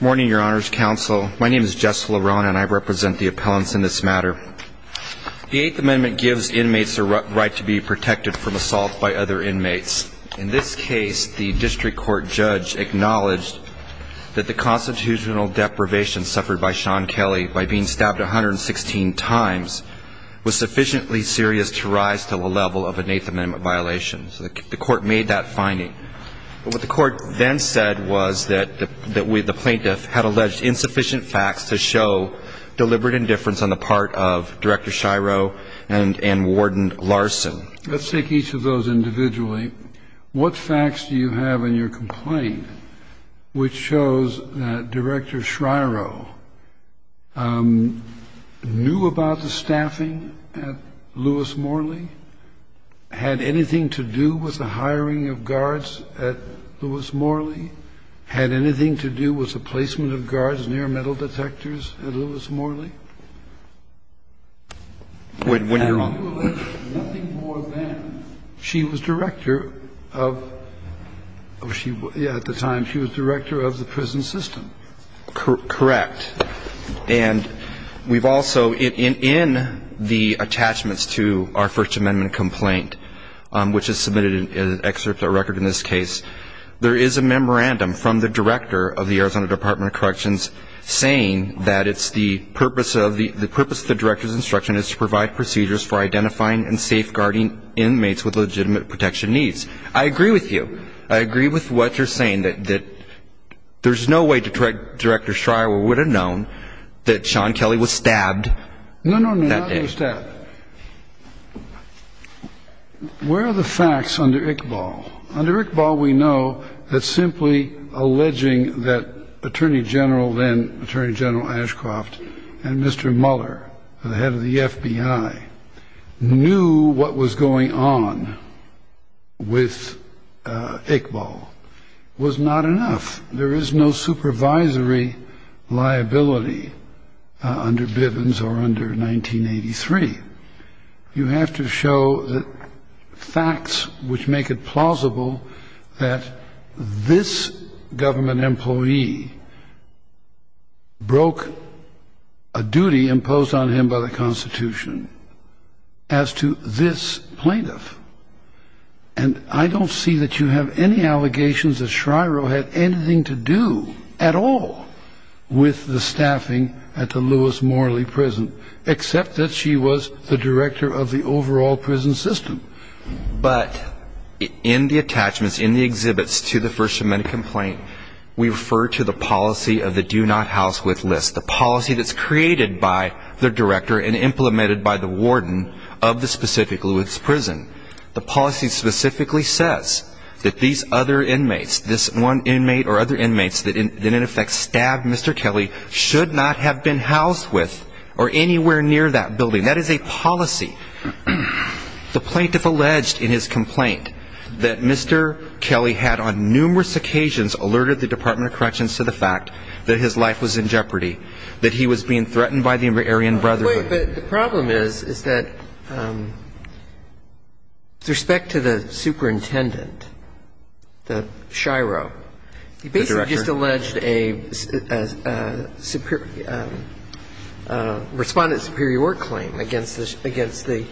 Morning, Your Honors Counsel. My name is Jess LeRone, and I represent the appellants in this matter. The Eighth Amendment gives inmates the right to be protected from assault by other inmates. In this case, the district court judge acknowledged that the constitutional deprivation suffered by Sean Kelly by being stabbed 116 times was sufficiently serious to rise to the level of an Eighth Amendment violation. The court made that finding. What the court then said was that the plaintiff had alleged insufficient facts to show deliberate indifference on the part of Director Shiro and Warden Larson. Let's take each of those individually. What facts do you have in your complaint which shows that Director Shiro knew about the staffing at Lewis Morley, had anything to do with the hiring of guards at Lewis Morley, had anything to do with the placement of guards near metal detectors at Lewis Morley? When you're on. Nothing more than she was director of the prison system. Correct. And we've also, in the attachments to our First Amendment complaint, which is submitted in an excerpt or record in this case, there is a memorandum from the director of the Arizona Department of Corrections saying that it's the purpose of the director's instruction is to provide procedures for identifying and safeguarding inmates with legitimate protection needs. I agree with you. I agree with what you're saying, that there's no way Director Shiro would have known that Sean Kelly was stabbed that day. No, no, no, not stabbed. Where are the facts under Iqbal? Under Iqbal, we know that simply alleging that Attorney General then, Attorney General Ashcroft, and Mr. Muller, the head of the FBI, knew what was going on with Iqbal was not enough. There is no supervisory liability under Bivens or under 1983. You have to show the facts which make it plausible that this government employee broke a duty imposed on him by the Constitution as to this plaintiff. And I don't see that you have any allegations that Shiro had anything to do at all with the staffing at the Lewis Morley Prison, except that she was the director of the overall prison system. But in the attachments, in the exhibits to the First Amendment complaint, we refer to the policy of the do not house with list, the policy that's created by the director and implemented by the warden of the specific Lewis Prison. The policy specifically says that these other inmates, this one inmate or other inmates that in effect stabbed Mr. Kelly, should not have been housed with or anywhere near that building. That is a policy. The plaintiff alleged in his complaint that Mr. Kelly had on numerous occasions alerted the Department of Corrections to the fact that his life was in jeopardy, that he was being threatened by the Aryan Brotherhood. But the problem is, is that with respect to the superintendent, the Shiro, he basically just alleged a respondent superior claim against the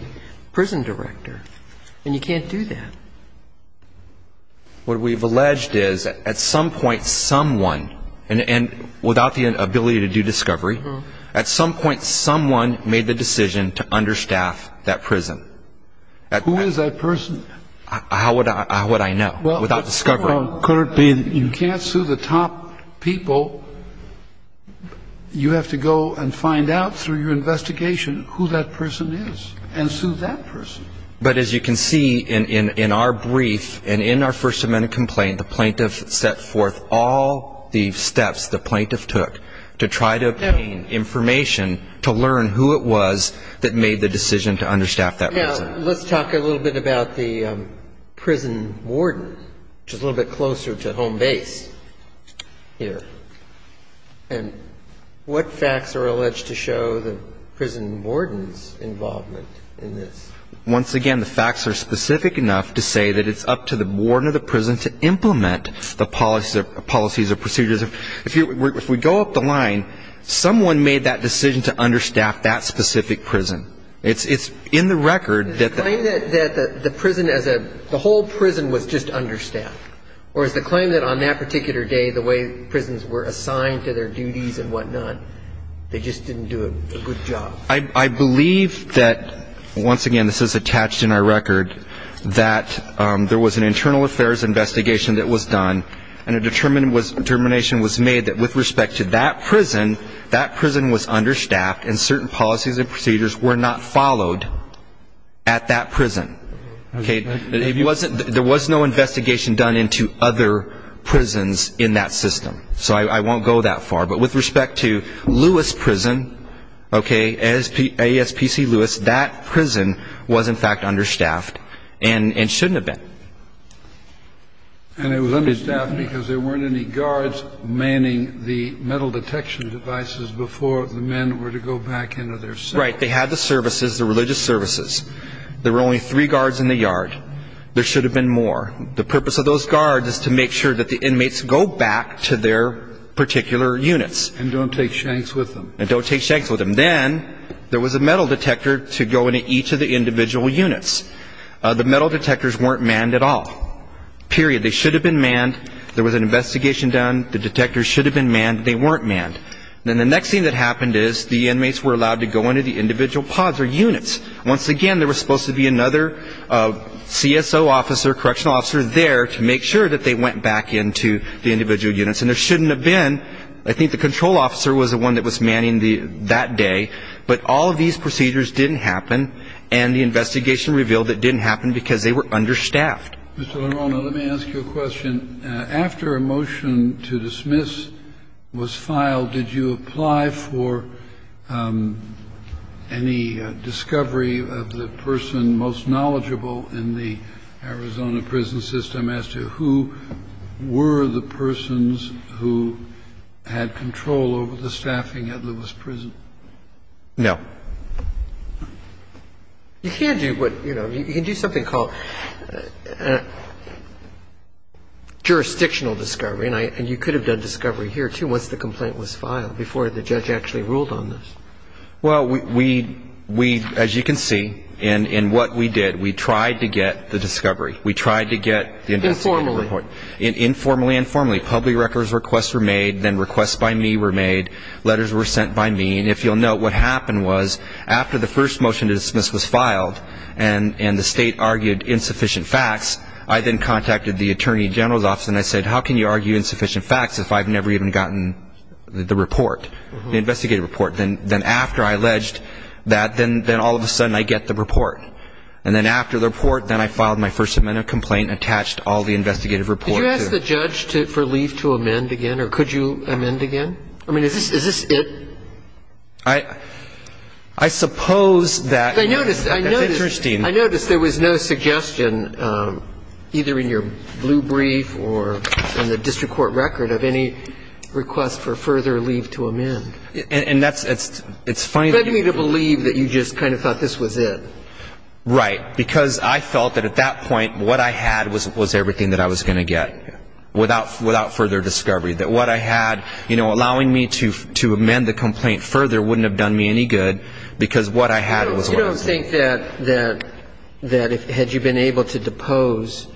prison director. And you can't do that. What we've alleged is at some point someone, and without the ability to do discovery, at some point someone made the decision to understaff that prison. Who is that person? How would I know without discovery? You can't sue the top people. You have to go and find out through your investigation who that person is and sue that person. But as you can see in our brief and in our First Amendment complaint, the plaintiff set forth all the steps the plaintiff took to try to obtain information to learn who it was that made the decision to understaff that prison. Now, let's talk a little bit about the prison warden, which is a little bit closer to home base here. And what facts are alleged to show the prison warden's involvement in this? Once again, the facts are specific enough to say that it's up to the warden of the prison to implement the policies or procedures. If we go up the line, someone made that decision to understaff that specific prison. It's in the record that the prison as a the whole prison was just understaffed. Or is the claim that on that particular day, the way prisons were assigned to their duties and whatnot, they just didn't do a good job? I believe that, once again, this is attached in our record, that there was an internal affairs investigation that was done and a determination was made that with respect to that prison, that prison was understaffed and certain policies and procedures were not followed at that prison. There was no investigation done into other prisons in that system. So I won't go that far. But with respect to Lewis Prison, okay, ASPC Lewis, that prison was, in fact, understaffed and shouldn't have been. And it was understaffed because there weren't any guards manning the metal detection devices before the men were to go back into their cells. Right. They had the services, the religious services. There were only three guards in the yard. There should have been more. The purpose of those guards is to make sure that the inmates go back to their particular units. And don't take shanks with them. And don't take shanks with them. Then there was a metal detector to go into each of the individual units. The metal detectors weren't manned at all, period. They should have been manned. There was an investigation done. The detectors should have been manned. They weren't manned. Once again, there was supposed to be another CSO officer, correctional officer, there to make sure that they went back into the individual units. And there shouldn't have been. I think the control officer was the one that was manning that day. But all of these procedures didn't happen. And the investigation revealed it didn't happen because they were understaffed. Mr. LaRona, let me ask you a question. After a motion to dismiss was filed, did you apply for any discovery of the person most knowledgeable in the Arizona prison system as to who were the persons who had control over the staffing at Lewis Prison? No. You can't do what, you know, you can do something called jurisdictional discovery. And you could have done discovery here, too, once the complaint was filed, before the judge actually ruled on this. Well, we, as you can see, in what we did, we tried to get the discovery. We tried to get the investigative report. Informally. Informally, informally. Public records requests were made. Then requests by me were made. Letters were sent by me. And if you'll note, what happened was after the first motion to dismiss was filed and the state argued insufficient facts, I then contacted the attorney general's office and I said, how can you argue insufficient facts if I've never even gotten the report, the investigative report? Then after I alleged that, then all of a sudden I get the report. And then after the report, then I filed my First Amendment complaint, attached all the investigative reports. Did you ask the judge for leave to amend again? Or could you amend again? I mean, is this it? I suppose that's interesting. I noticed there was no suggestion, either in your blue brief or in the district court record, of any request for further leave to amend. And that's fine. It led me to believe that you just kind of thought this was it. Right. Because I felt that at that point what I had was everything that I was going to get, without further discovery. That what I had, you know, allowing me to amend the complaint further wouldn't have done me any good because what I had was what I was going to get. So you don't think that had you been able to depose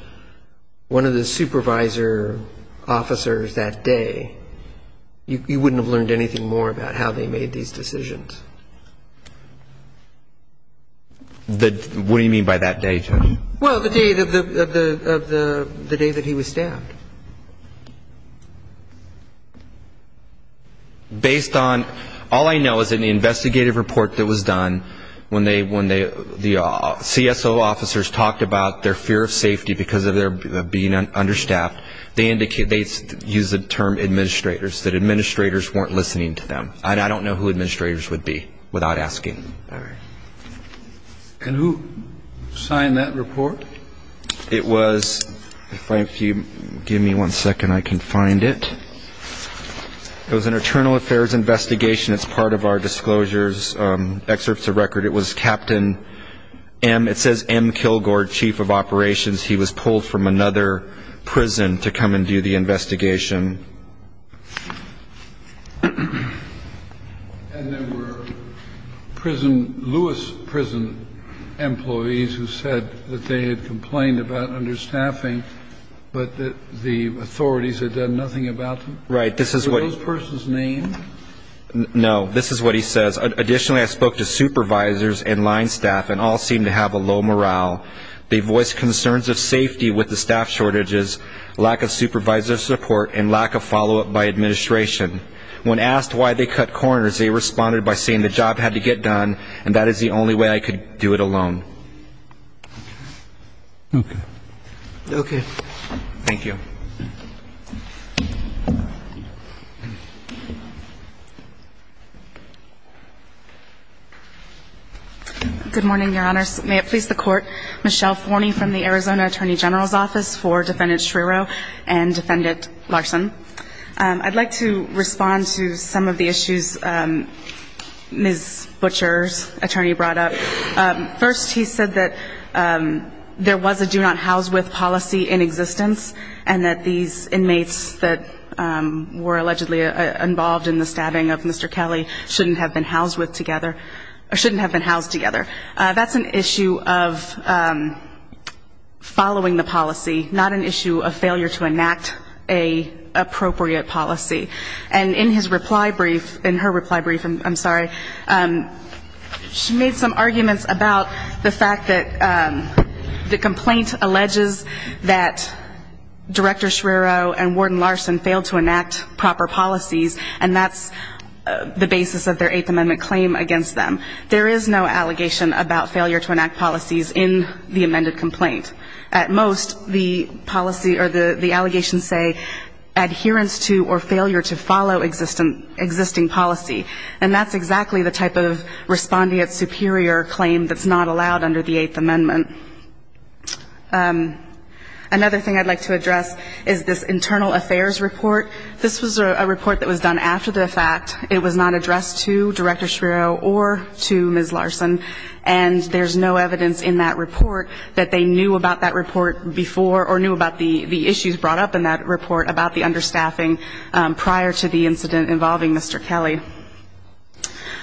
one of the supervisor officers that day, you wouldn't have learned anything more about how they made these decisions? What do you mean by that day, Judge? Well, the day that he was staffed. Based on all I know is in the investigative report that was done, when the CSO officers talked about their fear of safety because of their being understaffed, they used the term administrators, that administrators weren't listening to them. And I don't know who administrators would be without asking. All right. And who signed that report? It was, if you give me one second, I can find it. It was an internal affairs investigation. It's part of our disclosures, excerpts of record. It was Captain M. It says M. Kilgore, chief of operations. He was pulled from another prison to come and do the investigation. And there were prison, Lewis prison employees who said that they had complained about understaffing, but that the authorities had done nothing about them? Right. This is what. Were those persons named? No. This is what he says. Additionally, I spoke to supervisors and line staff and all seemed to have a low morale. They voiced concerns of safety with the staff shortages, lack of supervisor support, and lack of follow-up by administration. When asked why they cut corners, they responded by saying the job had to get done and that is the only way I could do it alone. Okay. Okay. Thank you. Good morning, Your Honors. May it please the Court. I'm Michelle Forney from the Arizona Attorney General's Office for Defendant Schrierow and Defendant Larson. I'd like to respond to some of the issues Ms. Butcher's attorney brought up. First, he said that there was a do-not-house-with policy in existence and that these inmates that were allegedly involved in the stabbing of Mr. Kelly shouldn't have been housed with together or shouldn't have been housed together. That's an issue of following the policy, not an issue of failure to enact an appropriate policy. And in his reply brief, in her reply brief, I'm sorry, she made some arguments about the fact that the complaint alleges that Director Schrierow and Warden Larson failed to enact proper policies, and that's the basis of their Eighth Amendment claim against them. There is no allegation about failure to enact policies in the amended complaint. At most, the policy or the allegations say adherence to or failure to follow existing policy, and that's exactly the type of respondent superior claim that's not allowed under the Eighth Amendment. Another thing I'd like to address is this internal affairs report. This was a report that was done after the fact. It was not addressed to Director Schrierow or to Ms. Larson, and there's no evidence in that report that they knew about that report before or knew about the issues brought up in that report about the understaffing prior to the incident involving Mr. Kelly.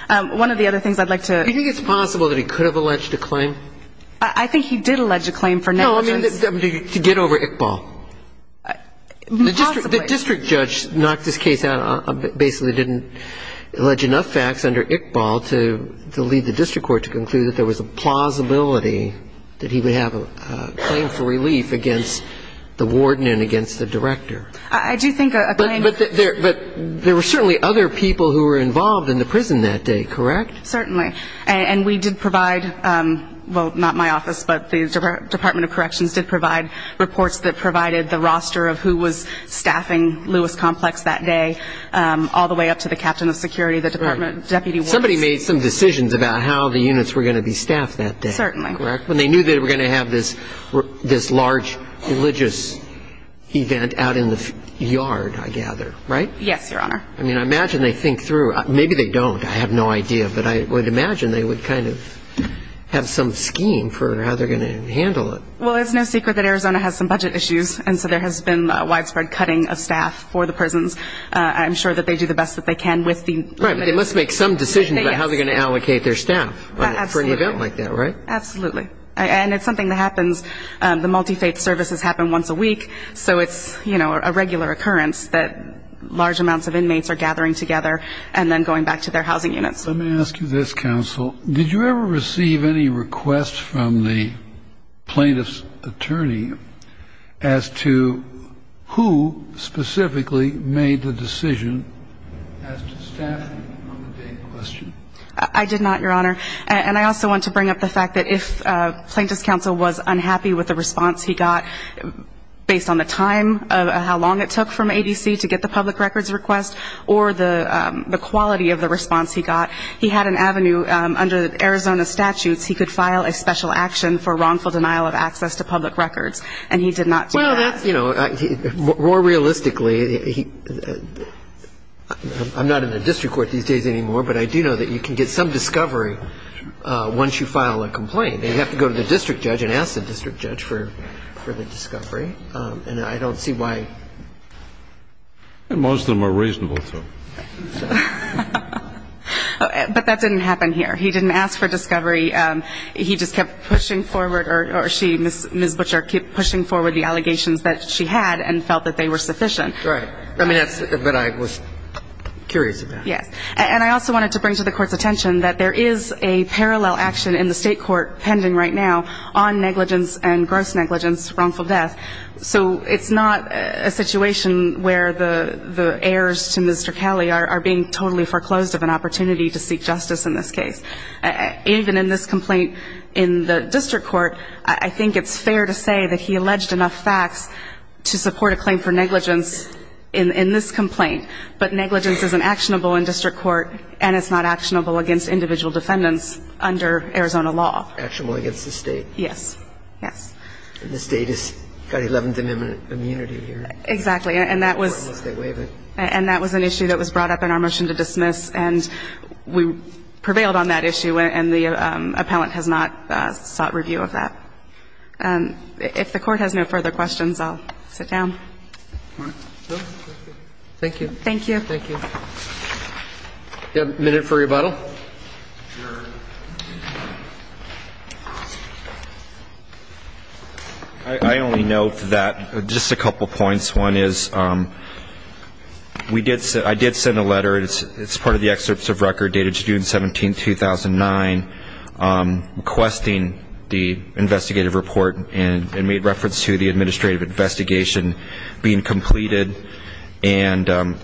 One of the other things I'd like to ---- Do you think it's possible that he could have alleged a claim? I think he did allege a claim for negligence. No, I mean to get over Iqbal. Possibly. The district judge knocked this case out, basically didn't allege enough facts under Iqbal to lead the district court to conclude that there was a plausibility that he would have a claim for relief against the warden and against the director. I do think a claim ---- But there were certainly other people who were involved in the prison that day, correct? Certainly. And we did provide, well, not my office, but the Department of Corrections did provide reports that provided the roster of who was staffing Lewis Complex that day all the way up to the captain of security, the department deputy warden. Somebody made some decisions about how the units were going to be staffed that day. Certainly. When they knew they were going to have this large religious event out in the yard, I gather, right? Yes, Your Honor. I mean, I imagine they think through. Maybe they don't. I have no idea. But I would imagine they would kind of have some scheme for how they're going to handle it. Well, it's no secret that Arizona has some budget issues, and so there has been widespread cutting of staff for the prisons. I'm sure that they do the best that they can with the ---- Right, but they must make some decisions about how they're going to allocate their staff for an event like that, right? Absolutely. And it's something that happens. The multi-faith services happen once a week, so it's a regular occurrence that large amounts of inmates are gathering together and then going back to their housing units. Let me ask you this, counsel. Did you ever receive any requests from the plaintiff's attorney as to who specifically made the decision as to staffing on the day in question? I did not, Your Honor. And I also want to bring up the fact that if plaintiff's counsel was unhappy with the response he got based on the time, how long it took from ABC to get the public records request, or the quality of the response he got, he had an avenue under Arizona statutes he could file a special action for wrongful denial of access to public records, and he did not do that. Well, that's, you know, more realistically, I'm not in the district court these days anymore, but I do know that you can get some discovery once you file a complaint. They have to go to the district judge and ask the district judge for the discovery, and I don't see why. Most of them are reasonable to. But that didn't happen here. He didn't ask for discovery. He just kept pushing forward, or she, Ms. Butcher, kept pushing forward the allegations that she had and felt that they were sufficient. Right. I mean, that's what I was curious about. Yes. And I also wanted to bring to the court's attention that there is a parallel action in the state court pending right now on negligence and gross negligence, wrongful death. So it's not a situation where the heirs to Mr. Kelly are being totally foreclosed of an opportunity to seek justice in this case. Even in this complaint in the district court, I think it's fair to say that he alleged enough facts to support a claim for negligence in this complaint. But negligence isn't actionable in district court, and it's not actionable against individual defendants under Arizona law. Actionable against the State. Yes. Yes. And the State has got Eleventh Amendment immunity here. Exactly. And that was an issue that was brought up in our motion to dismiss, and we prevailed on that issue, and the appellant has not sought review of that. If the Court has no further questions, I'll sit down. Thank you. Thank you. Thank you. Do you have a minute for rebuttal? Sure. I only note that just a couple points. One is I did send a letter. It's part of the excerpts of record dated June 17, 2009, requesting the investigative report and made reference to the administrative investigation being completed. And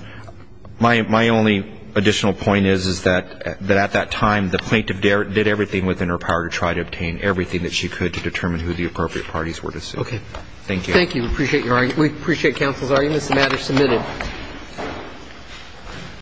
my only additional point is that at that time the plaintiff did everything within her power to try to obtain everything that she could to determine who the appropriate parties were to sue. Okay. Thank you. Thank you. We appreciate your argument. We appreciate counsel's arguments. The matter is submitted.